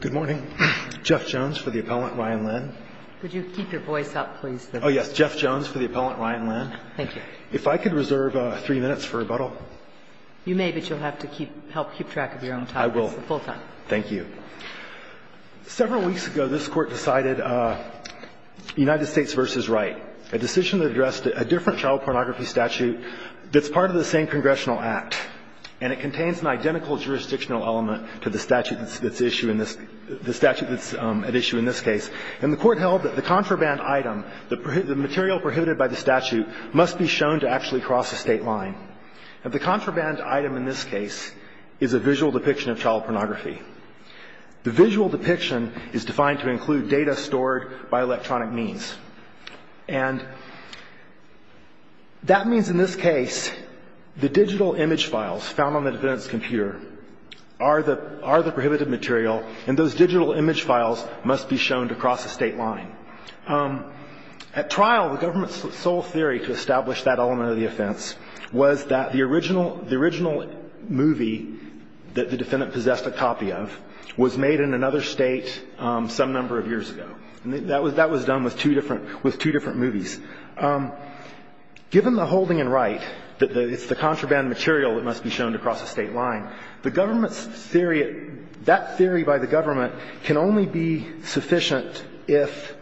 Good morning. Jeff Jones for the appellant, Ryan Lynn. Could you keep your voice up, please? Oh, yes. Jeff Jones for the appellant, Ryan Lynn. Thank you. If I could reserve three minutes for rebuttal. You may, but you'll have to help keep track of your own time. I will. It's the full time. Thank you. Several weeks ago, this Court decided United States v. Wright, a decision that addressed a different child pornography statute that's part of the same congressional act, and it contains an identical jurisdictional element to the statute that's at issue in this case. And the Court held that the contraband item, the material prohibited by the statute, must be shown to actually cross a state line. The contraband item in this case is a visual depiction of child pornography. The visual depiction is defined to include data stored by electronic means. And that means, in this case, the digital image files found on the defendant's computer are the prohibited material, and those digital image files must be shown to cross a state line. At trial, the government's sole theory to establish that element of the offense was that the original movie that the defendant possessed a copy of was made in another state some number of years ago. That was done with two different movies. Given the holding in Wright, that it's the contraband material that must be shown to cross a state line, the government's theory, that theory by the government, can only be sufficient if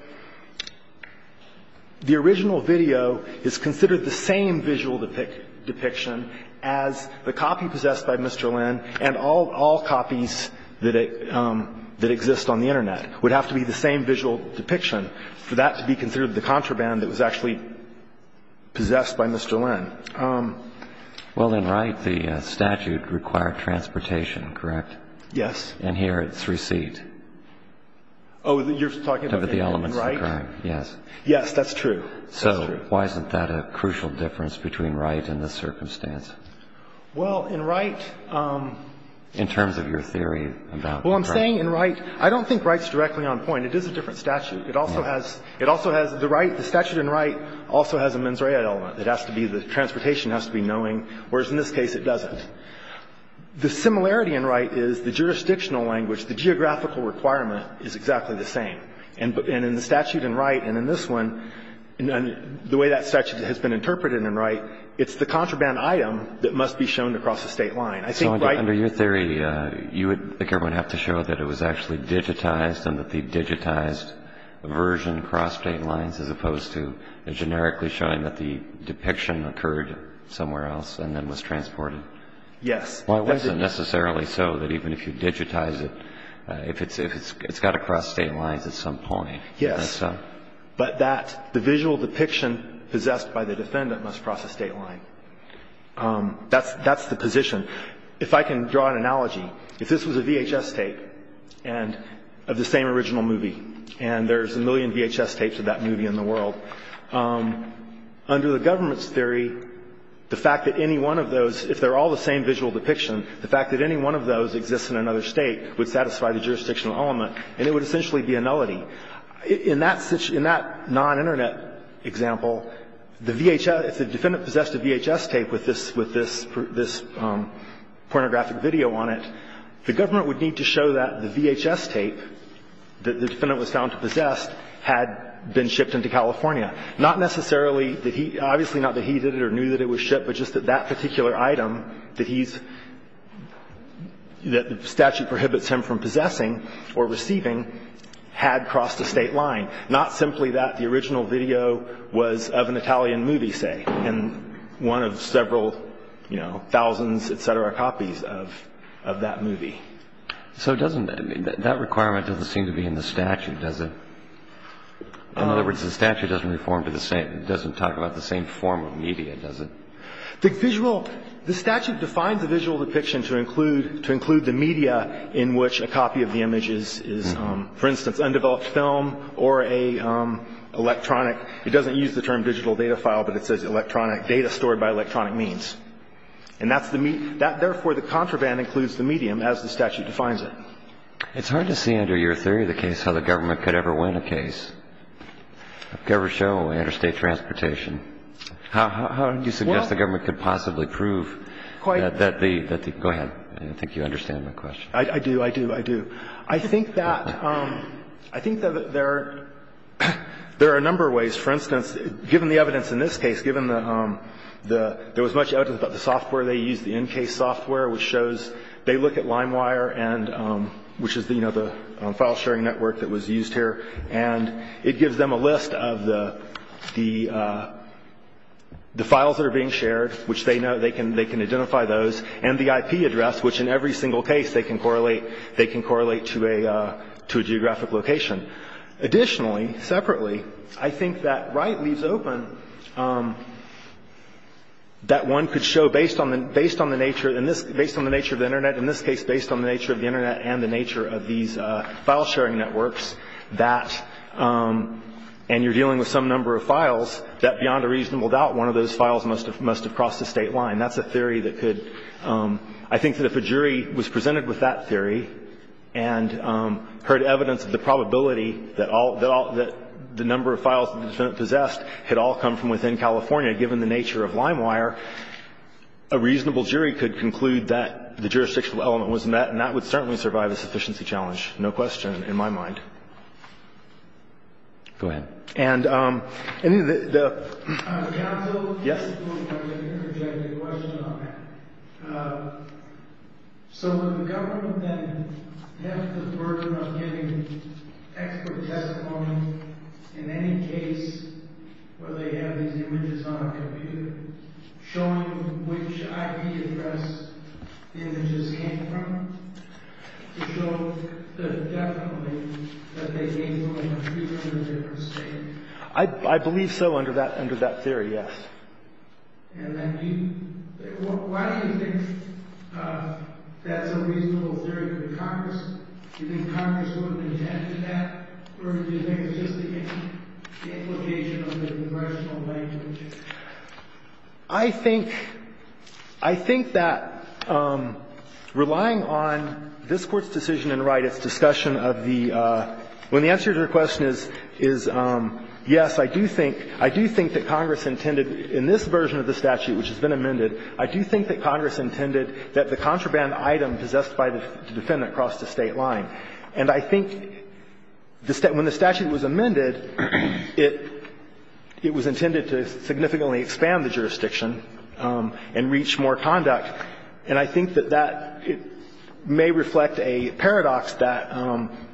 the original video is considered the same visual depiction as the copy possessed by Mr. Lynn and all copies that exist on the Internet. It would have to be the same visual depiction for that to be considered the contraband that was actually possessed by Mr. Lynn. Well, in Wright, the statute required transportation, correct? Yes. And here it's receipt. Oh, you're talking about the element in Wright? Yes. Yes, that's true. That's true. So why isn't that a crucial difference between Wright and this circumstance? Well, in Wright... In terms of your theory about... Well, I'm saying in Wright. I don't think Wright's directly on point. It is a different statute. It also has the right, the statute in Wright also has a mens rea element. It has to be the transportation has to be knowing, whereas in this case it doesn't. The similarity in Wright is the jurisdictional language, the geographical requirement is exactly the same. And in the statute in Wright and in this one, the way that statute has been interpreted in Wright, it's the contraband item that must be shown to cross the state line. I think Wright... So under your theory, you would think everyone would have to show that it was actually digitized and that the digitized version crossed state lines as opposed to generically showing that the depiction occurred somewhere else and then was transported? Yes. Well, it wasn't necessarily so that even if you digitize it, it's got to cross state lines at some point. Yes. But that, the visual depiction possessed by the defendant must cross the state line. That's the position. If I can draw an analogy, if this was a VHS tape of the same original movie and there's a million VHS tapes of that movie in the world, under the government's theory, the fact that any one of those, if they're all the same visual depiction, the fact that any one of those exists in another state would satisfy the jurisdictional element and it would essentially be a nullity. In that non-Internet example, if the defendant possessed a VHS tape with this pornographic video on it, the government would need to show that the VHS tape, that the defendant was found to possess, had been shipped into California. Not necessarily that he, obviously not that he did it or knew that it was shipped, but just that that particular item that he's, that the statute prohibits him from possessing or receiving, had crossed the state line. Not simply that the original video was of an Italian movie, say, and one of several, you know, thousands, et cetera, copies of that movie. So it doesn't, that requirement doesn't seem to be in the statute, does it? In other words, the statute doesn't reform to the same, doesn't talk about the same form of media, does it? The visual, the statute defines a visual depiction to include, to include the media in which a copy of the image is, for instance, undeveloped film or a electronic, it doesn't use the term digital data file, but it says electronic data stored by electronic means. And that's the, therefore the contraband includes the medium as the statute defines it. It's hard to see under your theory of the case how the government could ever win a case, could ever show interstate transportation. How do you suggest the government could possibly prove that the, that the, go ahead. I think you understand my question. I do, I do, I do. I think that, I think that there are, there are a number of ways. For instance, given the evidence in this case, given the, there was much evidence about the software they used, the NCASE software, which shows, they look at LimeWire and, which is the, you know, the file sharing network that was used here. And it gives them a list of the, the, the files that are being shared, which they know, they can, they can identify those. And the IP address, which in every single case they can correlate, they can correlate to a, to a geographic location. Additionally, separately, I think that Wright leaves open, that one could show, based on the, based on the nature, in this, based on the nature of the Internet, in this case, based on the nature of the Internet and the nature of these file sharing networks, that, and you're dealing with some number of files, that beyond a reasonable doubt, one of those files must have, must have crossed the state line. That's a theory that could, I think that if a jury was presented with that theory and heard evidence of the probability that all, that the number of files that the defendant possessed had all come from within California, given the nature of LimeWire, a reasonable jury could conclude that the jurisdictional element was met, and that would certainly survive a sufficiency challenge. No question, in my mind. Go ahead. And any of the, the. Counsel? Yes. I'm going to interject a question on that. So would the government then have the burden of giving expert testimony in any case where they have these images on a computer, showing which IP address the images came from, to show that definitely that they came from a different state? I, I believe so under that, under that theory, yes. And then do you, why do you think that's a reasonable theory for the Congress? Do you think Congress would have intended that? Or do you think it's just the implication of the congressional language? I think, I think that relying on this Court's decision in Wright, its discussion of the, when the answer to your question is, is yes, I do think, I do think that Congress intended in this version of the statute, which has been amended, I do think that Congress intended that the contraband item possessed by the defendant cross the state line. And I think the, when the statute was amended, it, it was intended to significantly expand the jurisdiction and reach more conduct. And I think that that may reflect a paradox that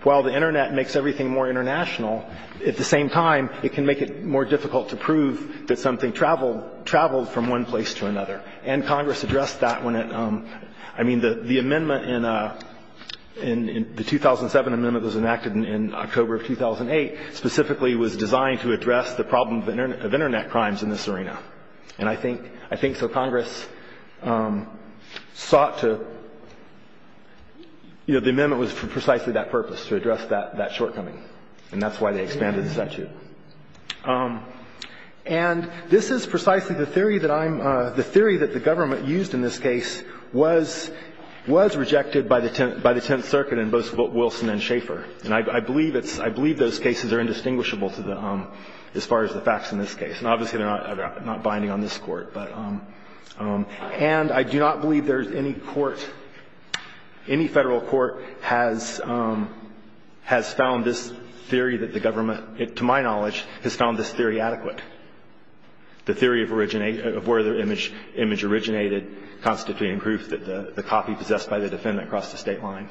while the Internet makes everything more international, at the same time, it can make it more difficult to prove that something traveled, traveled from one place to another. And Congress addressed that when it, I mean, the, the amendment in the 2007 amendment was enacted in October of 2008, specifically was designed to address the problem of Internet crimes in this arena. The amendment was for precisely that purpose, to address that, that shortcoming. And that's why they expanded the statute. And this is precisely the theory that I'm, the theory that the government used in this case was, was rejected by the, by the Tenth Circuit in both Wilson and Schaefer. And I believe it's, I believe those cases are indistinguishable to the, as far as the facts in this case. And obviously, they're not, not binding on this Court. But, and I do not believe there's any court, any federal court has, has found this theory that the government, to my knowledge, has found this theory adequate. The theory of originate, of where the image, image originated, constituting proof that the, the copy possessed by the defendant crossed the state line.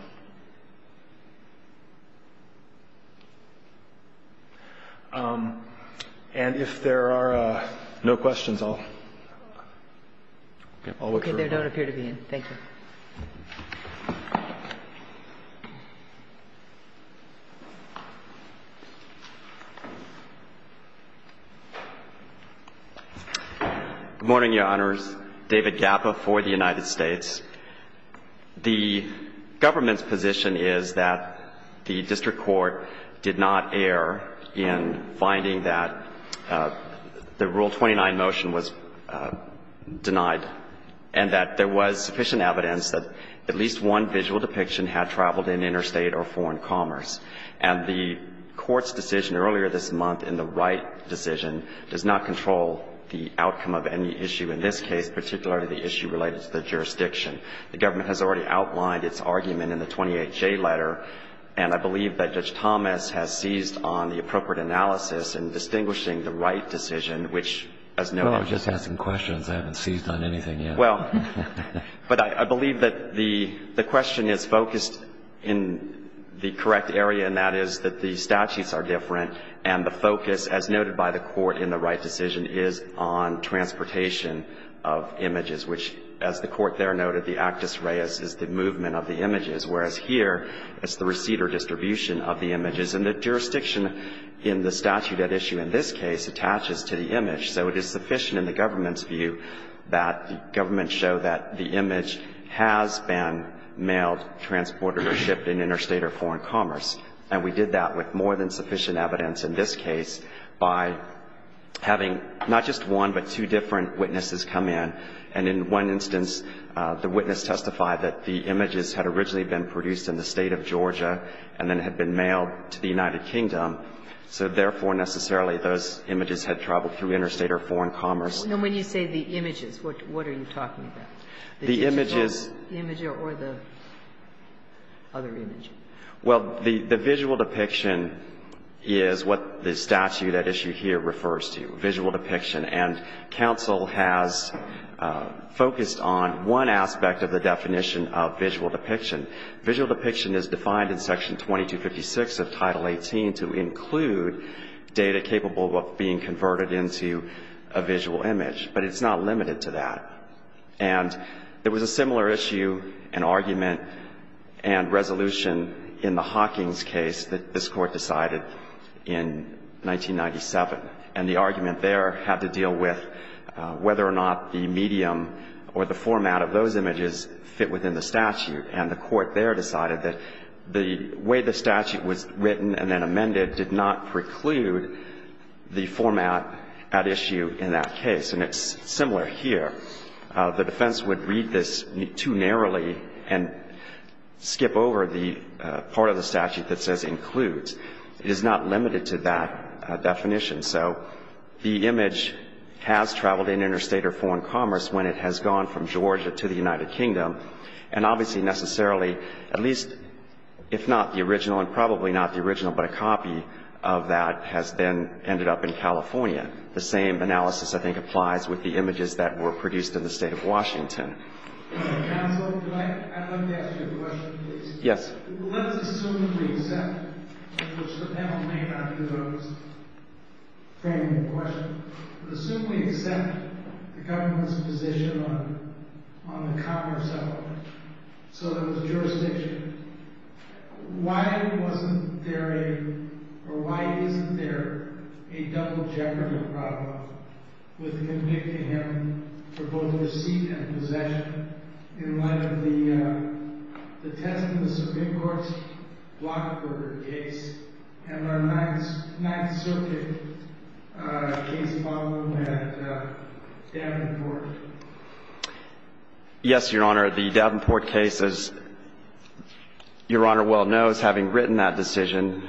And if there are no questions, I'll, I'll look for a minute. Okay. They don't appear to be in. Thank you. Good morning, Your Honors. David Gappa for the United States. The government's position is that the district court did not err in finding that the Rule 29 motion was denied and that there was sufficient evidence that at least one visual depiction had traveled in interstate or foreign commerce. And the Court's decision earlier this month in the Wright decision does not control the outcome of any issue in this case, particularly the issue related to the jurisdiction. The government has already outlined its argument in the 28J letter. And I believe that Judge Thomas has seized on the appropriate analysis in distinguishing the Wright decision, which, as noted. Well, I was just asking questions. I haven't seized on anything yet. Well, but I, I believe that the, the question is focused in the correct area, and that is that the statutes are different. And the focus, as noted by the Court in the Wright decision, is on transportation of images, which, as the Court there noted, the actus reus is the movement of the images, whereas here it's the receipt or distribution of the images. And the jurisdiction in the statute at issue in this case attaches to the image. So it is sufficient in the government's view that the government show that the image has been mailed, transported, or shipped in interstate or foreign commerce. And we did that with more than sufficient evidence in this case by having not just one but two different witnesses come in. And in one instance, the witness testified that the images had originally been produced in the State of Georgia and then had been mailed to the United Kingdom, so therefore necessarily those images had traveled through interstate or foreign commerce. And when you say the images, what, what are you talking about? The images. The image or the other image. Well, the, the visual depiction is what the statute at issue here refers to, visual depiction. And counsel has focused on one aspect of the definition of visual depiction. Visual depiction is defined in Section 2256 of Title 18 to include data capable of being converted into a visual image. But it's not limited to that. And there was a similar issue, an argument, and resolution in the Hawkings case that this Court decided in 1997. And the argument there had to deal with whether or not the medium or the format of those images fit within the statute. And the Court there decided that the way the statute was written and then amended did not preclude the format at issue in that case. And it's similar here. The defense would read this too narrowly and skip over the part of the statute that says includes. It is not limited to that definition. So the image has traveled in interstate or foreign commerce when it has gone from Georgia to the United Kingdom. And obviously necessarily, at least if not the original, and probably not the original, but a copy of that has then ended up in California. The same analysis, I think, applies with the images that were produced in the state of Washington. Counsel, I'd like to ask you a question, please. Yes. Let's assume we accept the government's position on the commerce element. So there was jurisdiction. Why wasn't there a, or why isn't there a double jeopardy problem with convicting him for both receipt and possession in light of the testimony of the Supreme Court's Blockburger case and our Ninth Circuit case following that at Davenport? Yes, Your Honor. The Davenport case, as Your Honor well knows, having written that decision,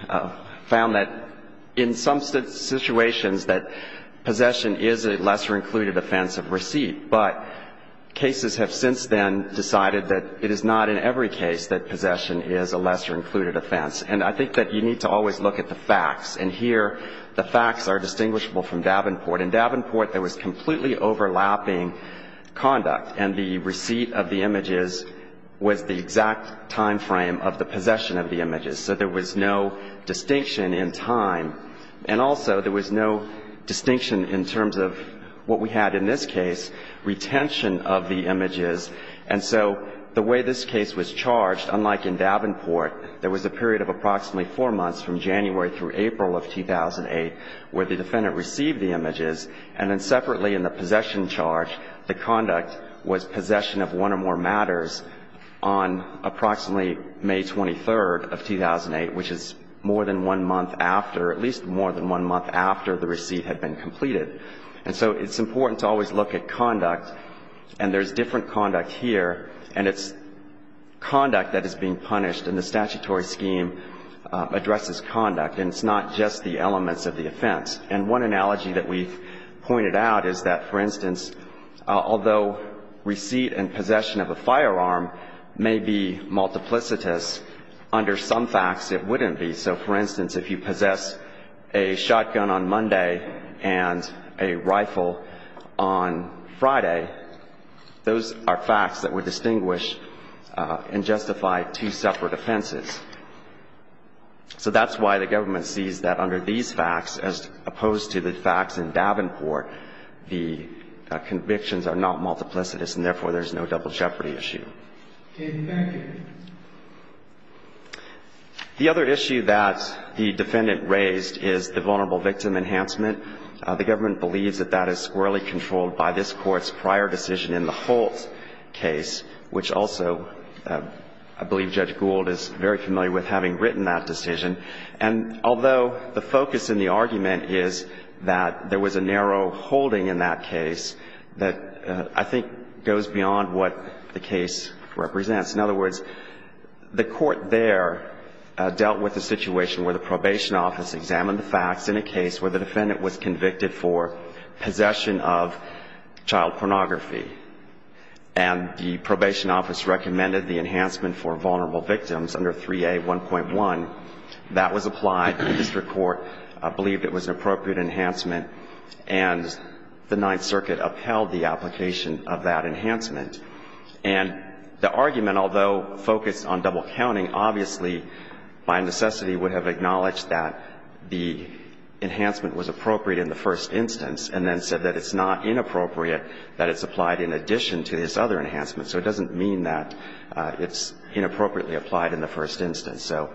found that in some situations that possession is a lesser included offense of receipt. But cases have since then decided that it is not in every case that possession is a lesser included offense. And I think that you need to always look at the facts. And here the facts are distinguishable from Davenport. In Davenport, there was completely overlapping conduct, and the receipt of the images was the exact time frame of the possession of the images. So there was no distinction in time. And also, there was no distinction in terms of what we had in this case, retention of the images. And so the way this case was charged, unlike in Davenport, there was a period of approximately four months from January through April of 2008 where the defendant received the images, and then separately in the possession charge, the conduct was possession of one or more matters on approximately May 23rd of 2008, which is more than one month after, at least more than one month after the receipt had been completed. And so it's important to always look at conduct. And there's different conduct here, and it's conduct that is being punished, and the statutory scheme addresses conduct. And it's not just the elements of the offense. And one analogy that we've pointed out is that, for instance, although receipt and possession of a firearm may be multiplicitous, under some facts it wouldn't be. So, for instance, if you possess a shotgun on Monday and a rifle on Friday, those are facts that would distinguish and justify two separate offenses. So that's why the government sees that under these facts, as opposed to the facts in Davenport, the convictions are not multiplicitous, and therefore there's no double jeopardy issue. The other issue that the defendant raised is the vulnerable victim enhancement. The government believes that that is squarely controlled by this Court's prior decision in the Holt case, which also I believe Judge Gould is very familiar with having written that decision. And although the focus in the argument is that there was a narrow holding in that case, that I think goes beyond what the case represents. In other words, the Court there dealt with a situation where the probation office examined the facts in a case where the defendant was convicted for possession of child pornography, and the probation office recommended the enhancement for vulnerable victims under 3A1.1. That was applied. The district court believed it was an appropriate enhancement, and the Ninth Circuit upheld the application of that enhancement. And the argument, although focused on double counting, obviously by necessity would have acknowledged that the enhancement was appropriate in the first instance and then said that it's not inappropriate that it's applied in addition to this other enhancement. So it doesn't mean that it's inappropriately applied in the first instance. So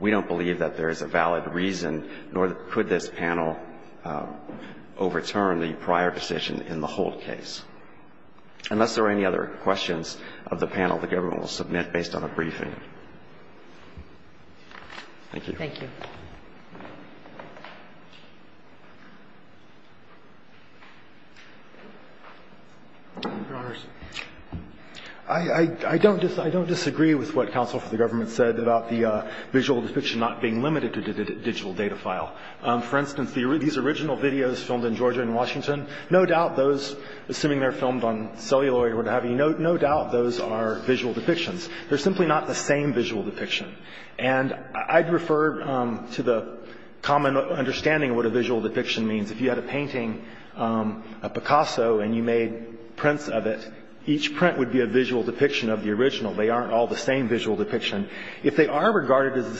we don't believe that there is a valid reason, nor could this panel overturn the prior decision in the Holt case. Unless there are any other questions of the panel, the government will submit based on a briefing. Thank you. Thank you. Your Honors, I don't disagree with what counsel for the government said about the visual depiction not being limited to the digital data file. For instance, these original videos filmed in Georgia and Washington, no doubt those, assuming they're filmed on cellular or what have you, no doubt those are visual depictions. They're simply not the same visual depiction. And I'd refer to the common understanding of what a visual depiction means. If you had a painting, a Picasso, and you made prints of it, each print would be a visual depiction of the original. They aren't all the same visual depiction. If they are regarded as the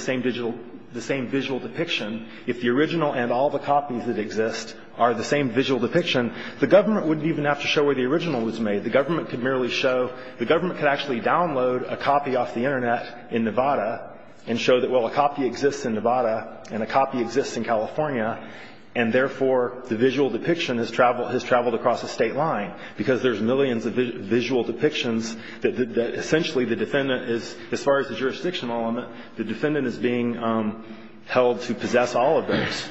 same visual depiction, if the original and all the copies that exist are the same visual depiction, the government wouldn't even have to show where the original was made. The government could merely show, the government could actually download a copy off the Internet in Nevada and show that, well, a copy exists in Nevada and a copy exists in California, and therefore, the visual depiction has traveled across the state line because there's millions of visual depictions that essentially the defendant is, as far as the jurisdiction element, the defendant is being held to possess all of those.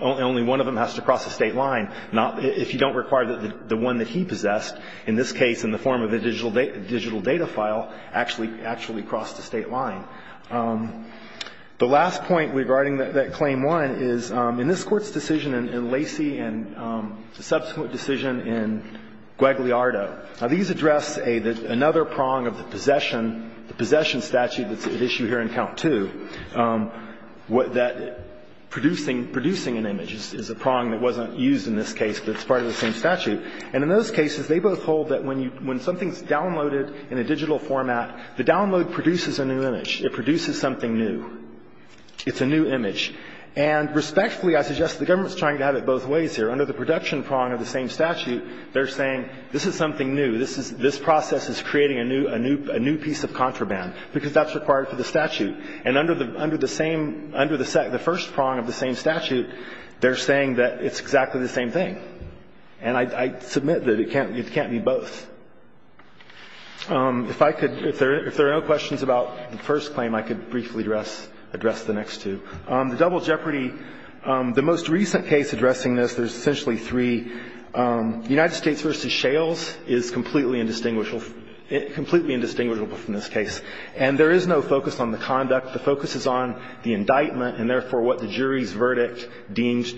Only one of them has to cross the state line. If you don't require the one that he possessed, in this case in the form of a digital data file, actually crossed the state line. The last point regarding that Claim 1 is, in this Court's decision in Lacey and the subsequent decision in Guagliardo, these address another prong of the possession statute that's at issue here in Count 2, that producing an image is a prong that wasn't used in this case, but it's part of the same statute. And in those cases, they both hold that when you, when something's downloaded in a digital format, the download produces a new image. It produces something new. It's a new image. And respectfully, I suggest the government's trying to have it both ways here. Under the production prong of the same statute, they're saying this is something new. This is, this process is creating a new, a new, a new piece of contraband because that's required for the statute. And under the, under the same, under the first prong of the same statute, they're saying that it's exactly the same thing. And I, I submit that it can't, it can't be both. If I could, if there are, if there are no questions about the first claim, I could briefly address, address the next two. The double jeopardy, the most recent case addressing this, there's essentially three. United States v. Shales is completely indistinguishable, completely indistinguishable from this case. And there is no focus on the conduct. The focus is on the indictment and, therefore, what the jury's verdict deems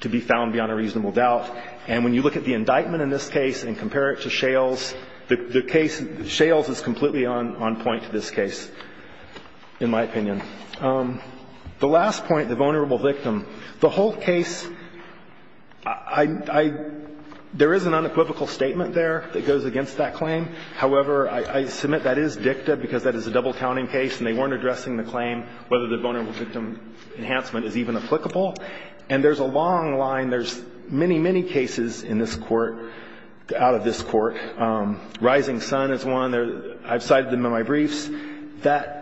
to be found to be beyond a reasonable doubt. And when you look at the indictment in this case and compare it to Shales, the case of Shales is completely on, on point to this case, in my opinion. The last point, the vulnerable victim, the whole case, I, I, there is an unequivocal statement there that goes against that claim. However, I, I submit that is dicta because that is a double counting case and they weren't addressing the claim whether the vulnerable victim enhancement is even applicable. And there's a long line, there's many, many cases in this Court, out of this Court. Rising Sun is one. I've cited them in my briefs. That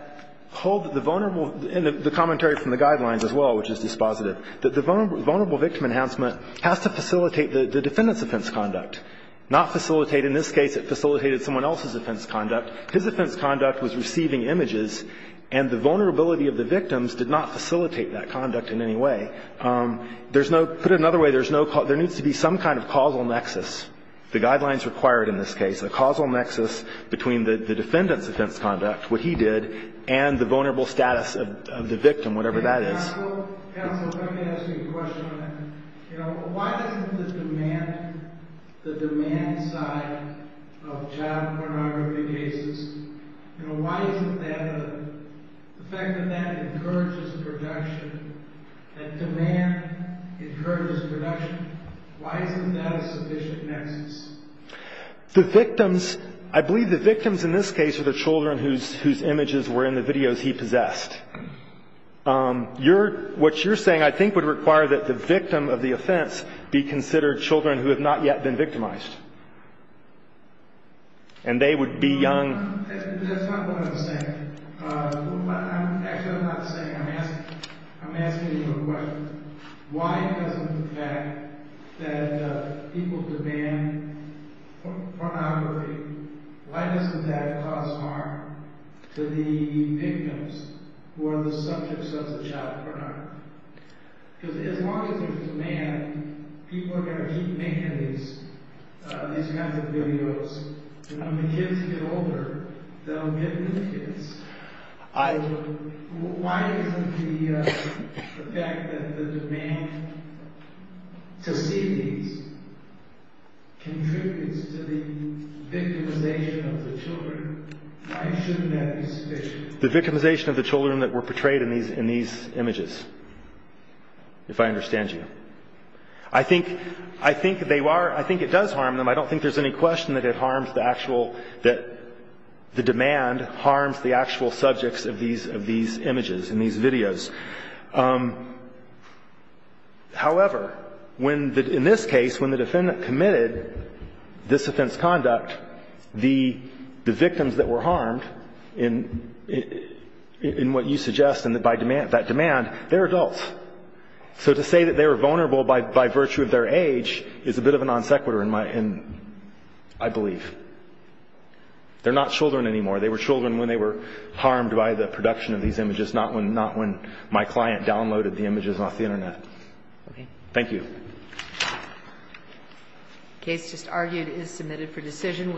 hold the vulnerable, and the commentary from the guidelines as well, which is dispositive, that the vulnerable victim enhancement has to facilitate the defendant's offense conduct, not facilitate, in this case, it facilitated someone else's offense conduct. His offense conduct was receiving images and the vulnerability of the victims did not facilitate that. There's no, put it another way, there's no, there needs to be some kind of causal nexus. The guidelines required in this case, a causal nexus between the, the defendant's offense conduct, what he did, and the vulnerable status of, of the victim, whatever that is. Counsel, counsel, let me ask you a question on that. You know, why isn't the demand, the demand side of child pornography cases, you know, why isn't that a, the fact that that encourages production, that demand encourages production, why isn't that a sufficient nexus? The victims, I believe the victims in this case are the children whose, whose images were in the videos he possessed. Your, what you're saying I think would require that the victim of the offense be considered children who have not yet been victimized. And they would be young. That's not what I'm saying. Actually, I'm not saying, I'm asking, I'm asking you a question. Why isn't the fact that people demand pornography, why doesn't that cause harm to the victims who are the subjects of the child pornography? Because as long as there's demand, people are going to keep making these, these kinds of videos. And when the kids get older, they'll get new kids. I. Why isn't the, the fact that the demand to see these contributes to the victimization of the children, why shouldn't that be sufficient? The victimization of the children that were portrayed in these, in these images, if I understand you. I think, I think they are, I think it does harm them. I don't think there's any question that it harms the actual, that the demand harms the actual subjects of these, of these images and these videos. However, when the, in this case, when the defendant committed this offense conduct, the, the victims that were harmed in, in, in what you suggest and that by demand, that demand, they're adults. So to say that they were vulnerable by, by virtue of their age is a bit of a non sequitur in my, in, I believe. They're not children anymore. They were children when they were harmed by the production of these images, not when, not when my client downloaded the images off the Internet. Thank you. Case just argued is submitted for decision.